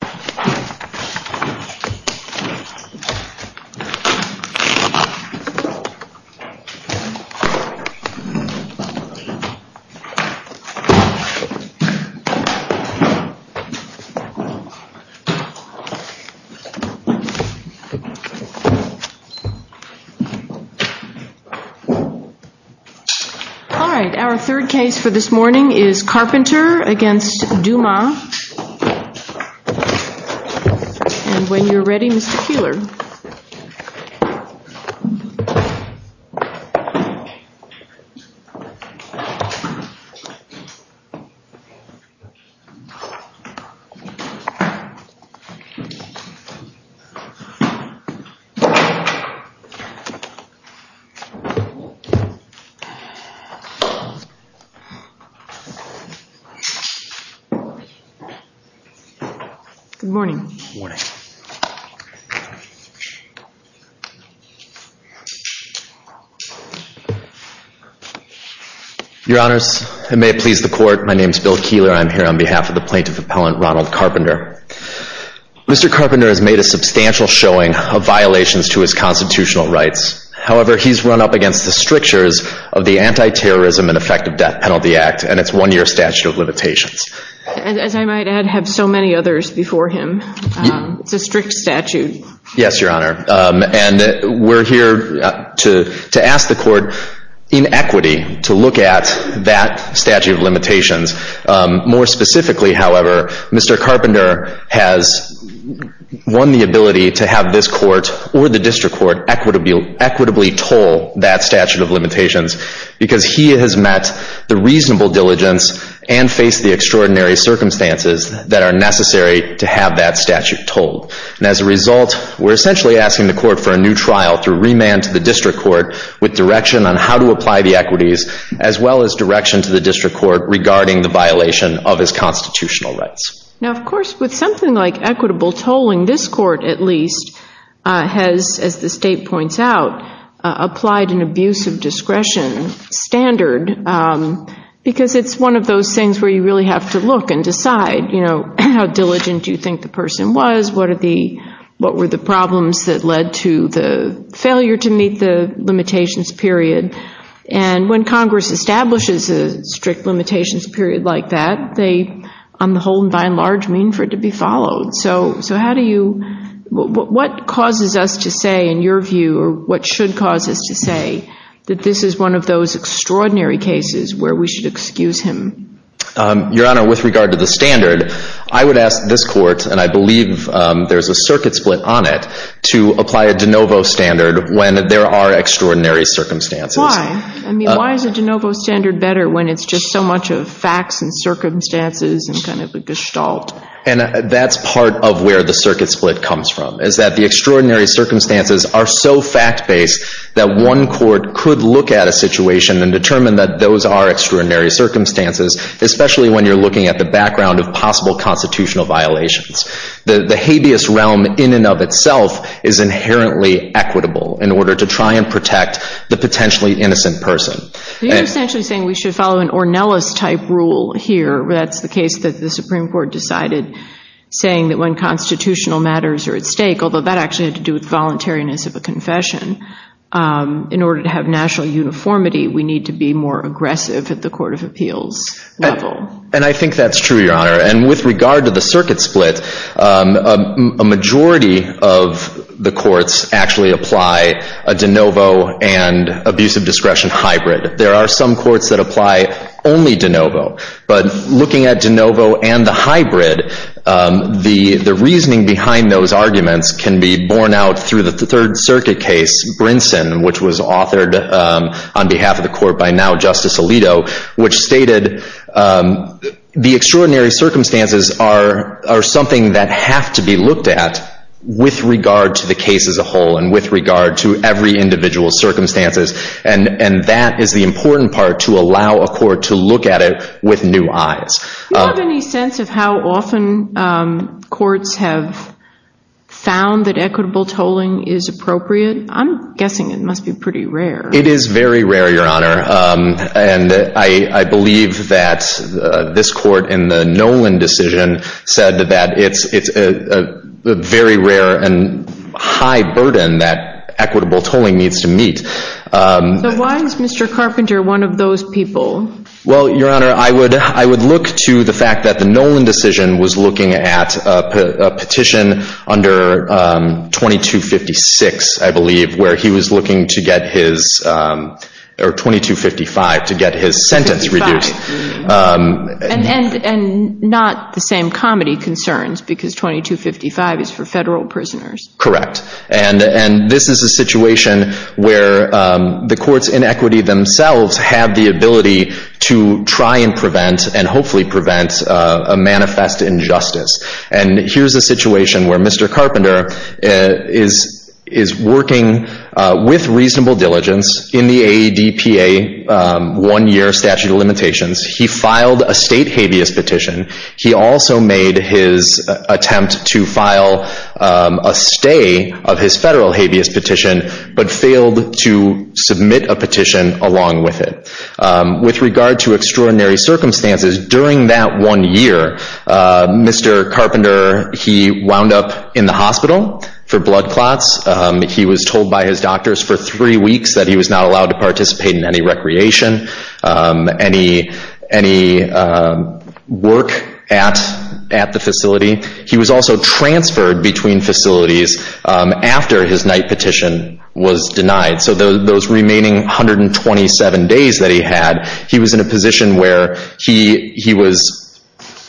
Carpenter, Jr. v. Timothy Douma Carpenter, Jr. v. Timothy Douma Good morning. Good morning. Your Honors, and may it please the Court, my name is Bill Keeler. I'm here on behalf of the Plaintiff Appellant, Ronald Carpenter. Mr. Carpenter has made a substantial showing of violations to his constitutional rights. However, he's run up against the strictures of the Anti-Terrorism and Effective Death Penalty Act and its one-year statute of limitations. As I might add, I have so many others before him. It's a strict statute. Yes, Your Honor. And we're here to ask the Court, in equity, to look at that statute of limitations. More specifically, however, Mr. Carpenter has won the ability to have this Court or the District Court equitably toll that statute of limitations because he has met the reasonable diligence and faced the extraordinary circumstances that are necessary to have that statute tolled. And as a result, we're essentially asking the Court for a new trial through remand to the District Court with direction on how to apply the equities, as well as direction to the District Court regarding the violation of his constitutional rights. Now, of course, with something like equitable tolling, this Court, at least, has, as the State points out, applied an abuse of discretion standard because it's one of those things where you really have to look and decide, you know, how diligent do you think the person was? What were the problems that led to the failure to meet the limitations period? And when Congress establishes a strict limitations period like that, they, on the whole and by and large, mean for it to be followed. So how do you – what causes us to say, in your view, or what should cause us to say, that this is one of those extraordinary cases where we should excuse him? Your Honor, with regard to the standard, I would ask this Court, and I believe there's a circuit split on it, to apply a de novo standard when there are extraordinary circumstances. Why? I mean, why is a de novo standard better when it's just so much of facts and circumstances and kind of a gestalt? And that's part of where the circuit split comes from, is that the extraordinary circumstances are so fact-based that one court could look at a situation and determine that those are extraordinary circumstances, especially when you're looking at the background of possible constitutional violations. The habeas realm in and of itself is inherently equitable in order to try and protect the potentially innocent person. You're essentially saying we should follow an Ornelas-type rule here. That's the case that the Supreme Court decided, saying that when constitutional matters are at stake, although that actually had to do with voluntariness of a confession, in order to have national uniformity, we need to be more aggressive at the court of appeals level. And I think that's true, Your Honor. And with regard to the circuit split, a majority of the courts actually apply a de novo and abusive discretion hybrid. There are some courts that apply only de novo. But looking at de novo and the hybrid, the reasoning behind those arguments can be borne out through the Third Circuit case, Brinson, which was authored on behalf of the Court by now Justice Alito, which stated the extraordinary circumstances are something that have to be looked at with regard to the case as a whole and with regard to every individual's circumstances. And that is the important part, to allow a court to look at it with new eyes. Do you have any sense of how often courts have found that equitable tolling is appropriate? I'm guessing it must be pretty rare. It is very rare, Your Honor. And I believe that this court in the Nolan decision said that it's a very rare and high burden that equitable tolling needs to meet. So why is Mr. Carpenter one of those people? Well, Your Honor, I would look to the fact that the Nolan decision was looking at a petition under 2256, I believe, where he was looking to get his, or 2255, to get his sentence reduced. And not the same comedy concerns, because 2255 is for federal prisoners. Correct. And this is a situation where the court's inequity themselves have the ability to try and prevent and hopefully prevent a manifest injustice. And here's a situation where Mr. Carpenter is working with reasonable diligence in the AEDPA one-year statute of limitations. He filed a state habeas petition. He also made his attempt to file a stay of his federal habeas petition but failed to submit a petition along with it. With regard to extraordinary circumstances, during that one year, Mr. Carpenter, he wound up in the hospital for blood clots. He was told by his doctors for three weeks that he was not allowed to participate in any recreation, any work at the facility. He was also transferred between facilities after his night petition was denied. So those remaining 127 days that he had, he was in a position where he was,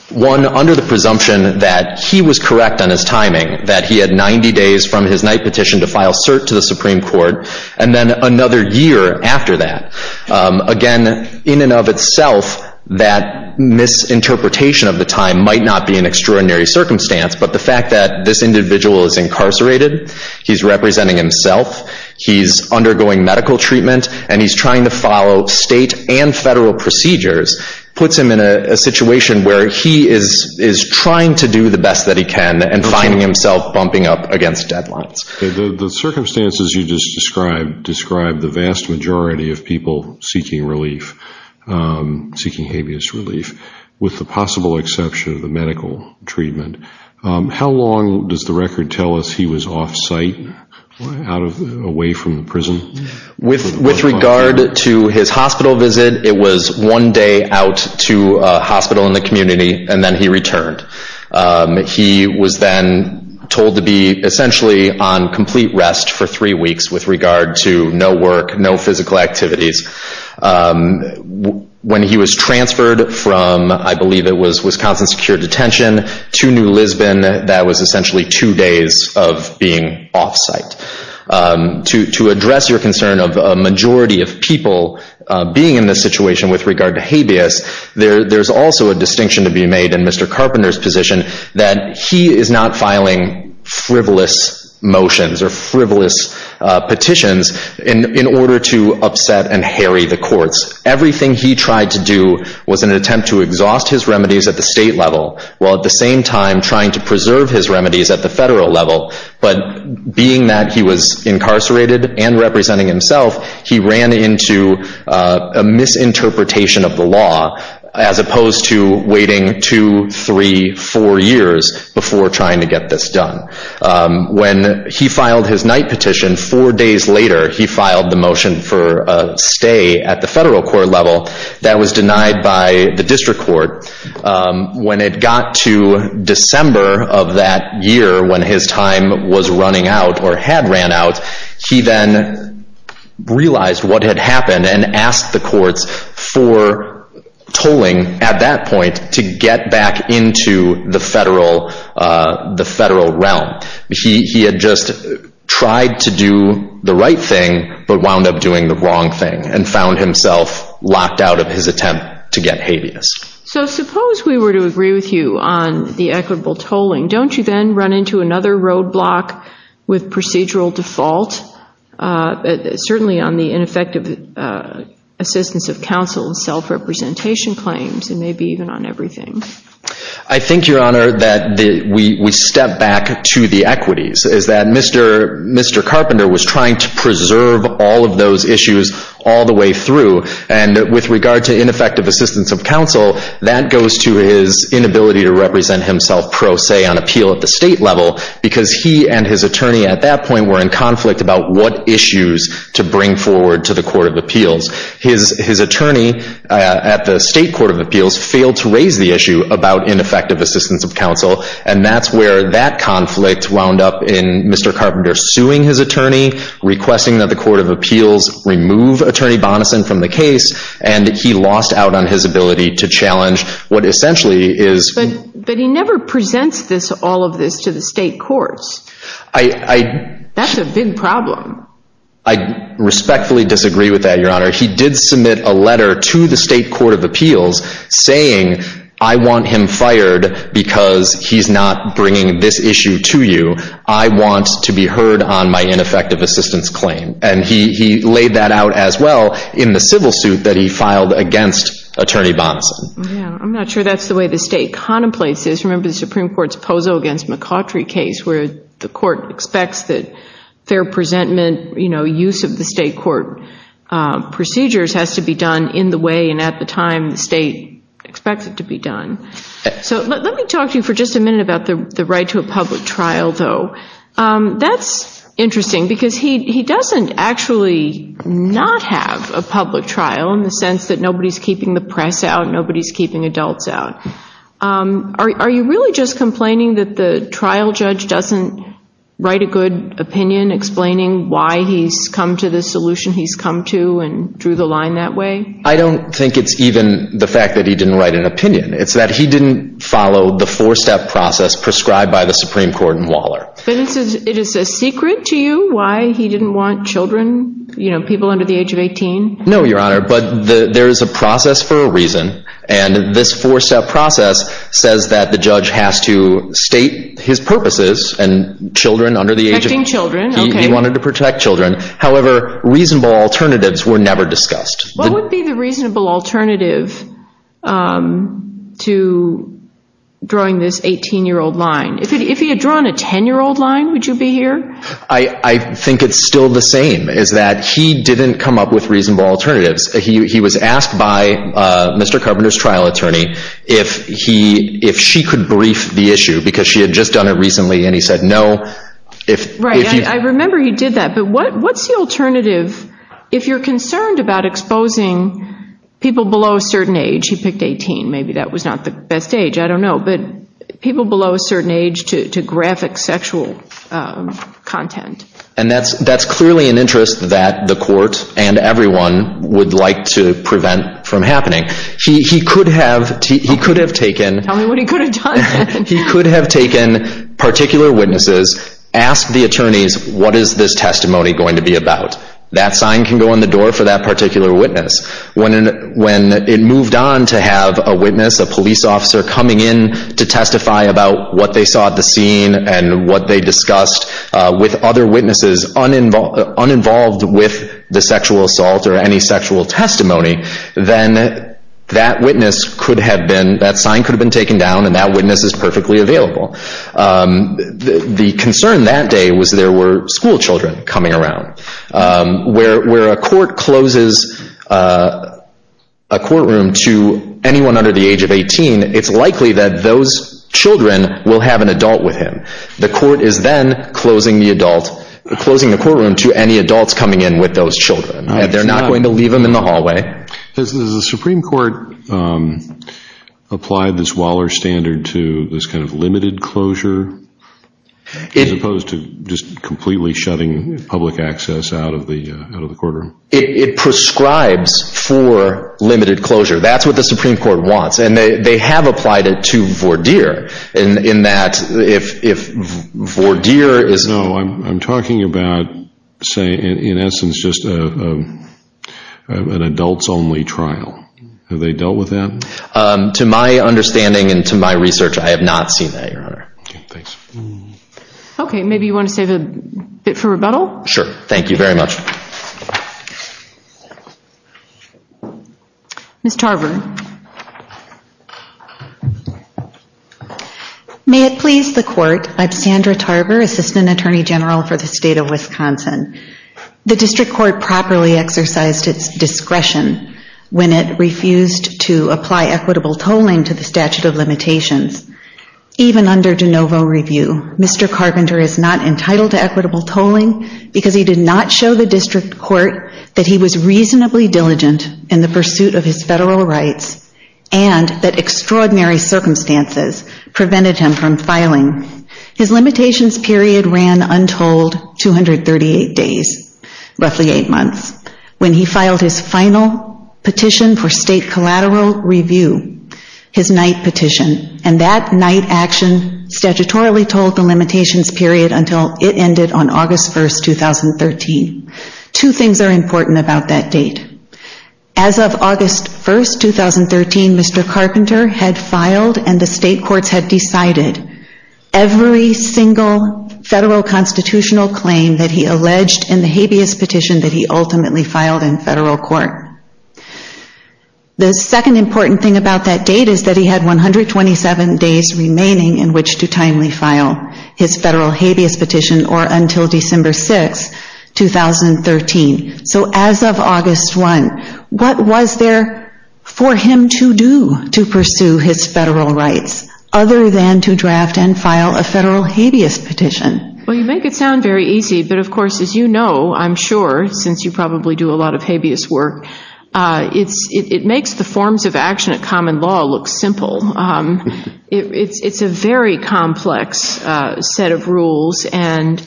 one, under the presumption that he was correct on his timing, that he had 90 days from his night petition to file cert to the Supreme Court, and then another year after that. Again, in and of itself, that misinterpretation of the time might not be an extraordinary circumstance, but the fact that this individual is incarcerated, he's representing himself, he's undergoing medical treatment, and he's trying to follow state and federal procedures puts him in a situation where he is trying to do the best that he can and finding himself bumping up against deadlines. The circumstances you just described describe the vast majority of people seeking relief, seeking habeas relief, with the possible exception of the medical treatment. How long does the record tell us he was off-site, away from the prison? With regard to his hospital visit, it was one day out to a hospital in the community, and then he returned. He was then told to be essentially on complete rest for three weeks with regard to no work, no physical activities. When he was transferred from, I believe it was Wisconsin Secure Detention, to New Lisbon, that was essentially two days of being off-site. To address your concern of a majority of people being in this situation with regard to habeas, there's also a distinction to be made in Mr. Carpenter's position that he is not filing frivolous motions or frivolous petitions in order to upset and harry the courts. Everything he tried to do was an attempt to exhaust his remedies at the state level, while at the same time trying to preserve his remedies at the federal level. But being that he was incarcerated and representing himself, he ran into a misinterpretation of the law, as opposed to waiting two, three, four years before trying to get this done. When he filed his night petition, four days later he filed the motion for a stay at the federal court level. That was denied by the district court. When it got to December of that year, when his time was running out or had ran out, he then realized what had happened and asked the courts for tolling at that point to get back into the federal realm. He had just tried to do the right thing, but wound up doing the wrong thing and found himself locked out of his attempt to get habeas. So suppose we were to agree with you on the equitable tolling. Don't you then run into another roadblock with procedural default, certainly on the ineffective assistance of counsel and self-representation claims and maybe even on everything? I think, Your Honor, that we step back to the equities, is that Mr. Carpenter was trying to preserve all of those issues all the way through. And with regard to ineffective assistance of counsel, that goes to his inability to represent himself pro se on appeal at the state level because he and his attorney at that point were in conflict about what issues to bring forward to the court of appeals. His attorney at the state court of appeals failed to raise the issue about ineffective assistance of counsel, and that's where that conflict wound up in Mr. Carpenter suing his attorney, requesting that the court of appeals remove attorney Bonnison from the case, and he lost out on his ability to challenge what essentially is- But he never presents all of this to the state courts. That's a big problem. I respectfully disagree with that, Your Honor. He did submit a letter to the state court of appeals saying, I want him fired because he's not bringing this issue to you. I want to be heard on my ineffective assistance claim. And he laid that out as well in the civil suit that he filed against attorney Bonnison. Yeah. I'm not sure that's the way the state contemplates this. Remember the Supreme Court's Pozo against McCautry case, where the court expects that fair presentment, you know, use of the state court procedures has to be done in the way, and at the time the state expects it to be done. So let me talk to you for just a minute about the right to a public trial though. That's interesting because he doesn't actually not have a public trial in the sense that nobody's keeping the press out, nobody's keeping adults out. Are you really just complaining that the trial judge doesn't write a good opinion explaining why he's come to the solution he's come to and drew the line that way? I don't think it's even the fact that he didn't write an opinion. It's that he didn't follow the four-step process prescribed by the Supreme Court in Waller. But it is a secret to you why he didn't want children, you know, people under the age of 18? No, Your Honor, but there is a process for a reason, and this four-step process says that the judge has to state his purposes and children under the age of 18. Protecting children, okay. He wanted to protect children. However, reasonable alternatives were never discussed. What would be the reasonable alternative to drawing this 18-year-old line? If he had drawn a 10-year-old line, would you be here? I think it's still the same, is that he didn't come up with reasonable alternatives. He was asked by Mr. Carpenter's trial attorney if she could brief the issue because she had just done it recently and he said no. Right, and I remember he did that. But what's the alternative if you're concerned about exposing people below a certain age, he picked 18, maybe that was not the best age, I don't know, but people below a certain age to graphic sexual content? And that's clearly an interest that the court and everyone would like to prevent from happening. He could have taken particular witnesses, asked the attorneys, what is this testimony going to be about? That sign can go on the door for that particular witness. When it moved on to have a witness, a police officer, coming in to testify about what they saw at the scene and what they discussed with other witnesses uninvolved with the sexual assault or any sexual testimony, then that witness could have been, that sign could have been taken down and that witness is perfectly available. The concern that day was there were school children coming around. Where a court closes a courtroom to anyone under the age of 18, it's likely that those children will have an adult with him. The court is then closing the courtroom to any adults coming in with those children. They're not going to leave them in the hallway. Has the Supreme Court applied this Waller standard to this kind of limited closure as opposed to just completely shutting public access out of the courtroom? It prescribes for limited closure. That's what the Supreme Court wants, and they have applied it to Vourdier in that if Vourdier is— So I'm talking about, say, in essence, just an adults-only trial. Have they dealt with that? To my understanding and to my research, I have not seen that, Your Honor. Okay, thanks. Okay, maybe you want to save a bit for rebuttal? Sure, thank you very much. Ms. Tarver. May it please the Court, I'm Sandra Tarver, Assistant Attorney General for the State of Wisconsin. The District Court properly exercised its discretion when it refused to apply equitable tolling to the statute of limitations. Even under de novo review, Mr. Carpenter is not entitled to equitable tolling because he did not show the District Court that he was reasonably diligent in the pursuit of his federal rights and that extraordinary circumstances prevented him from filing. His limitations period ran untold 238 days, roughly eight months, when he filed his final petition for state collateral review, his night petition, and that night action statutorily tolled the limitations period until it ended on August 1, 2013. Two things are important about that date. As of August 1, 2013, Mr. Carpenter had filed and the state courts had decided every single federal constitutional claim that he alleged in the habeas petition that he ultimately filed in federal court. The second important thing about that date is that he had 127 days remaining in which to timely file his federal habeas petition or until December 6, 2013. So as of August 1, what was there for him to do to pursue his federal rights other than to draft and file a federal habeas petition? Well, you make it sound very easy, but of course, as you know, I'm sure, since you probably do a lot of habeas work, it makes the forms of action at common law look simple. It's a very complex set of rules and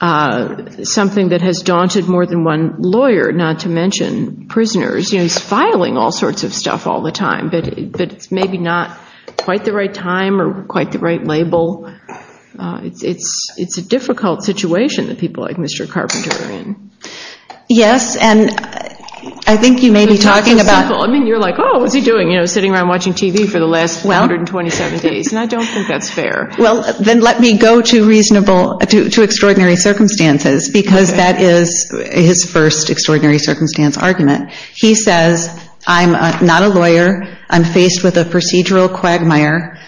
something that has daunted more than one lawyer, not to mention prisoners. You know, he's filing all sorts of stuff all the time, but it's maybe not quite the right time or quite the right label. It's a difficult situation that people like Mr. Carpenter are in. Yes, and I think you may be talking about... Well, then let me go to extraordinary circumstances because that is his first extraordinary circumstance argument. He says, I'm not a lawyer. I'm faced with a procedural quagmire,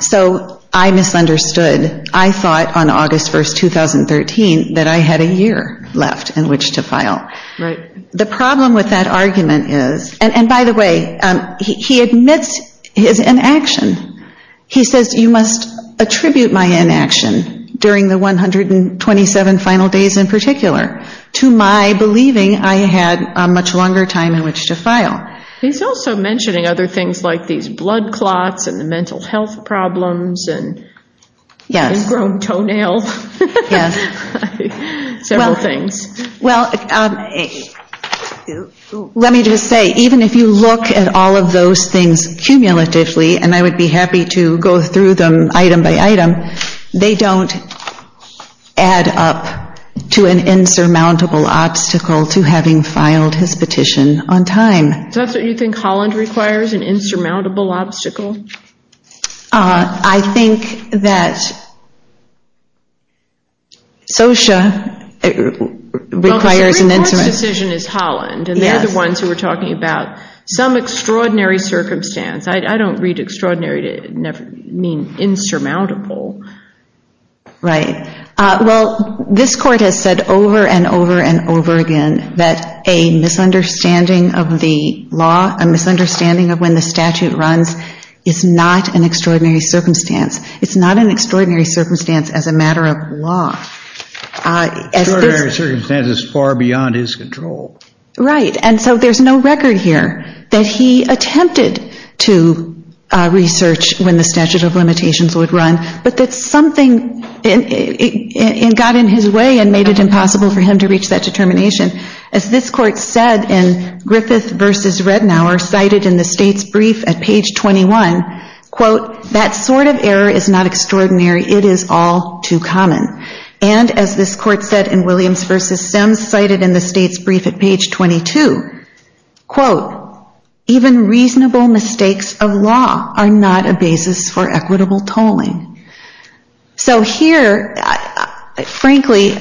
so I misunderstood. I thought on August 1, 2013, that I had a year left in which to file. The problem with that argument is, and by the way, he admits his inaction. He says, you must attribute my inaction during the 127 final days in particular to my believing I had a much longer time in which to file. He's also mentioning other things like these blood clots and the mental health problems and ingrown toenails, several things. Well, let me just say, even if you look at all of those things cumulatively, and I would be happy to go through them item by item, they don't add up to an insurmountable obstacle to having filed his petition on time. So that's what you think Holland requires, an insurmountable obstacle? I think that SOCIA requires an insurmountable obstacle. Well, the Supreme Court's decision is Holland, and they're the ones who are talking about some extraordinary circumstance. I don't read extraordinary to mean insurmountable. Right. Well, this Court has said over and over and over again that a misunderstanding of the law, a misunderstanding of when the statute runs, is not an extraordinary circumstance. It's not an extraordinary circumstance as a matter of law. Extraordinary circumstance is far beyond his control. Right, and so there's no record here that he attempted to research when the statute of limitations would run, but that something got in his way and made it impossible for him to reach that determination. As this Court said in Griffith v. Rednauer, cited in the State's brief at page 21, quote, that sort of error is not extraordinary, it is all too common. And as this Court said in Williams v. Sims, cited in the State's brief at page 22, quote, even reasonable mistakes of law are not a basis for equitable tolling. So here, frankly,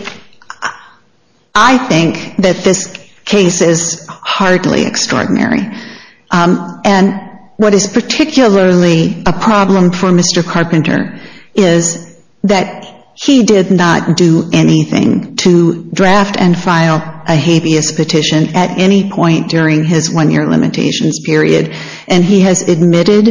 I think that this case is hardly extraordinary. And what is particularly a problem for Mr. Carpenter is that he did not do anything to draft and file a habeas petition at any point during his one-year limitations period, and he has admitted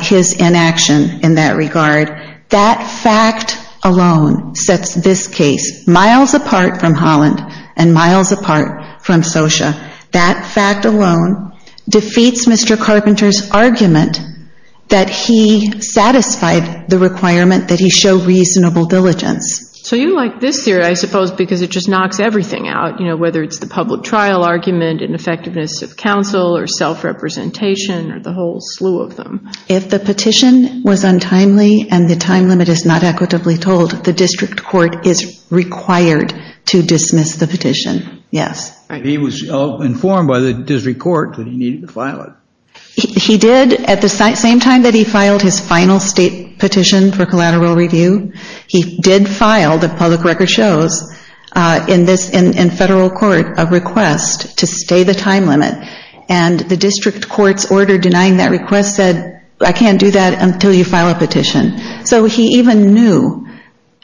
his inaction in that regard. That fact alone sets this case miles apart from Holland and miles apart from SOCIA. That fact alone defeats Mr. Carpenter's argument that he satisfied the requirement that he show reasonable diligence. So you like this theory, I suppose, because it just knocks everything out, whether it's the public trial argument and effectiveness of counsel or self-representation or the whole slew of them. If the petition was untimely and the time limit is not equitably told, the District Court is required to dismiss the petition, yes. He was informed by the District Court that he needed to file it. He did at the same time that he filed his final State petition for collateral review. He did file, the public record shows, in federal court a request to stay the time limit, and the District Court's order denying that request said, I can't do that until you file a petition. So he even knew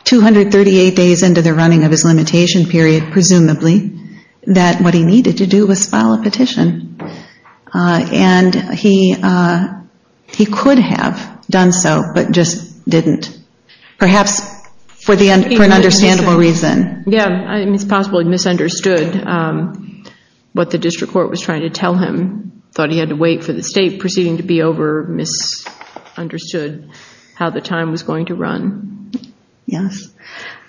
238 days into the running of his limitation period, presumably, that what he needed to do was file a petition. And he could have done so, but just didn't, perhaps for an understandable reason. Yeah, it's possible he misunderstood what the District Court was trying to tell him, thought he had to wait for the State proceeding to be over, misunderstood how the time was going to run. Yes.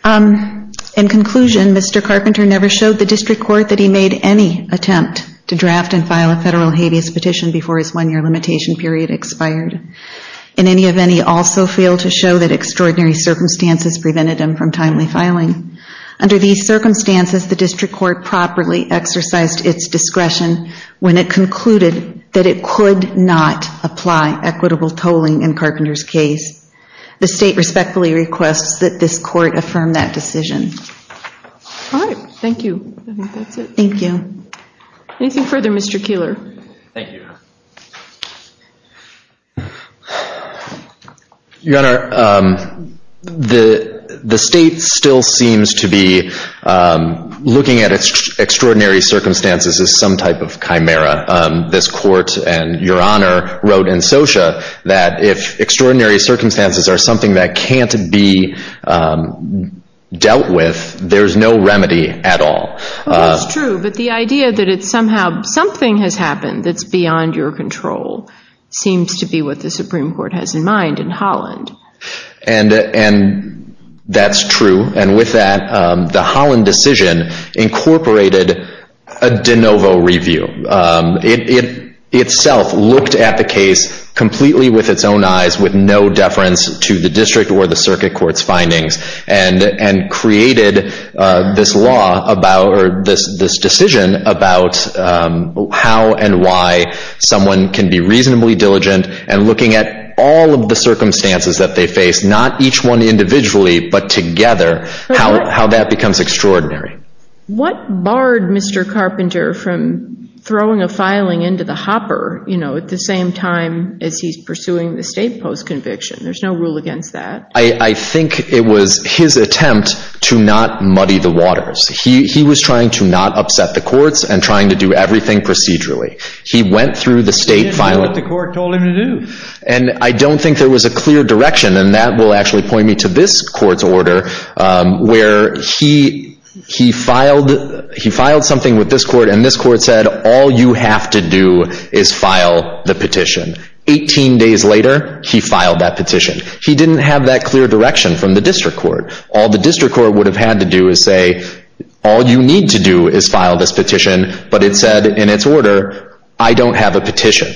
In conclusion, Mr. Carpenter never showed the District Court that he made any attempt to draft and file a federal habeas petition before his one-year limitation period expired, and any of any also failed to show that extraordinary circumstances prevented him from timely filing. Under these circumstances, the District Court properly exercised its discretion when it concluded that it could not apply equitable tolling in Carpenter's case. The State respectfully requests that this Court affirm that decision. All right, thank you. I think that's it. Thank you. Anything further, Mr. Keillor? Thank you. Your Honor, the State still seems to be looking at extraordinary circumstances as some type of chimera. This Court, and Your Honor, wrote in SOCIA that if extraordinary circumstances are something that can't be dealt with, there's no remedy at all. That's true, but the idea that somehow something has happened that's beyond your control seems to be what the Supreme Court has in mind in Holland. And that's true. And with that, the Holland decision incorporated a de novo review. It itself looked at the case completely with its own eyes, with no deference to the District or the Circuit Court's findings, and created this decision about how and why someone can be reasonably diligent, and looking at all of the circumstances that they face, not each one individually, but together, how that becomes extraordinary. What barred Mr. Carpenter from throwing a filing into the hopper, you know, at the same time as he's pursuing the State post-conviction? There's no rule against that. I think it was his attempt to not muddy the waters. He was trying to not upset the courts and trying to do everything procedurally. He went through the State filing. He didn't do what the court told him to do. And I don't think there was a clear direction, and that will actually point me to this court's order, where he filed something with this court, and this court said, all you have to do is file the petition. Eighteen days later, he filed that petition. He didn't have that clear direction from the District Court. All the District Court would have had to do is say, all you need to do is file this petition, but it said in its order, I don't have a petition.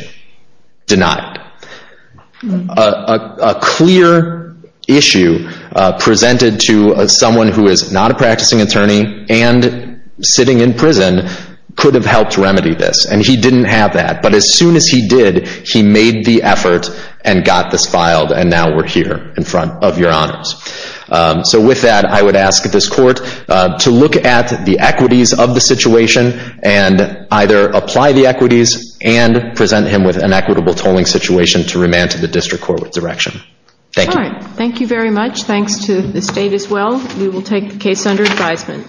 Denied. A clear issue presented to someone who is not a practicing attorney and sitting in prison could have helped remedy this, and he didn't have that. But as soon as he did, he made the effort and got this filed, and now we're here in front of your honors. So with that, I would ask this court to look at the equities of the situation and either apply the equities and present him with an equitable tolling situation to remand to the District Court with direction. Thank you. All right. Thank you very much. Thanks to the State as well. We will take the case under advisement.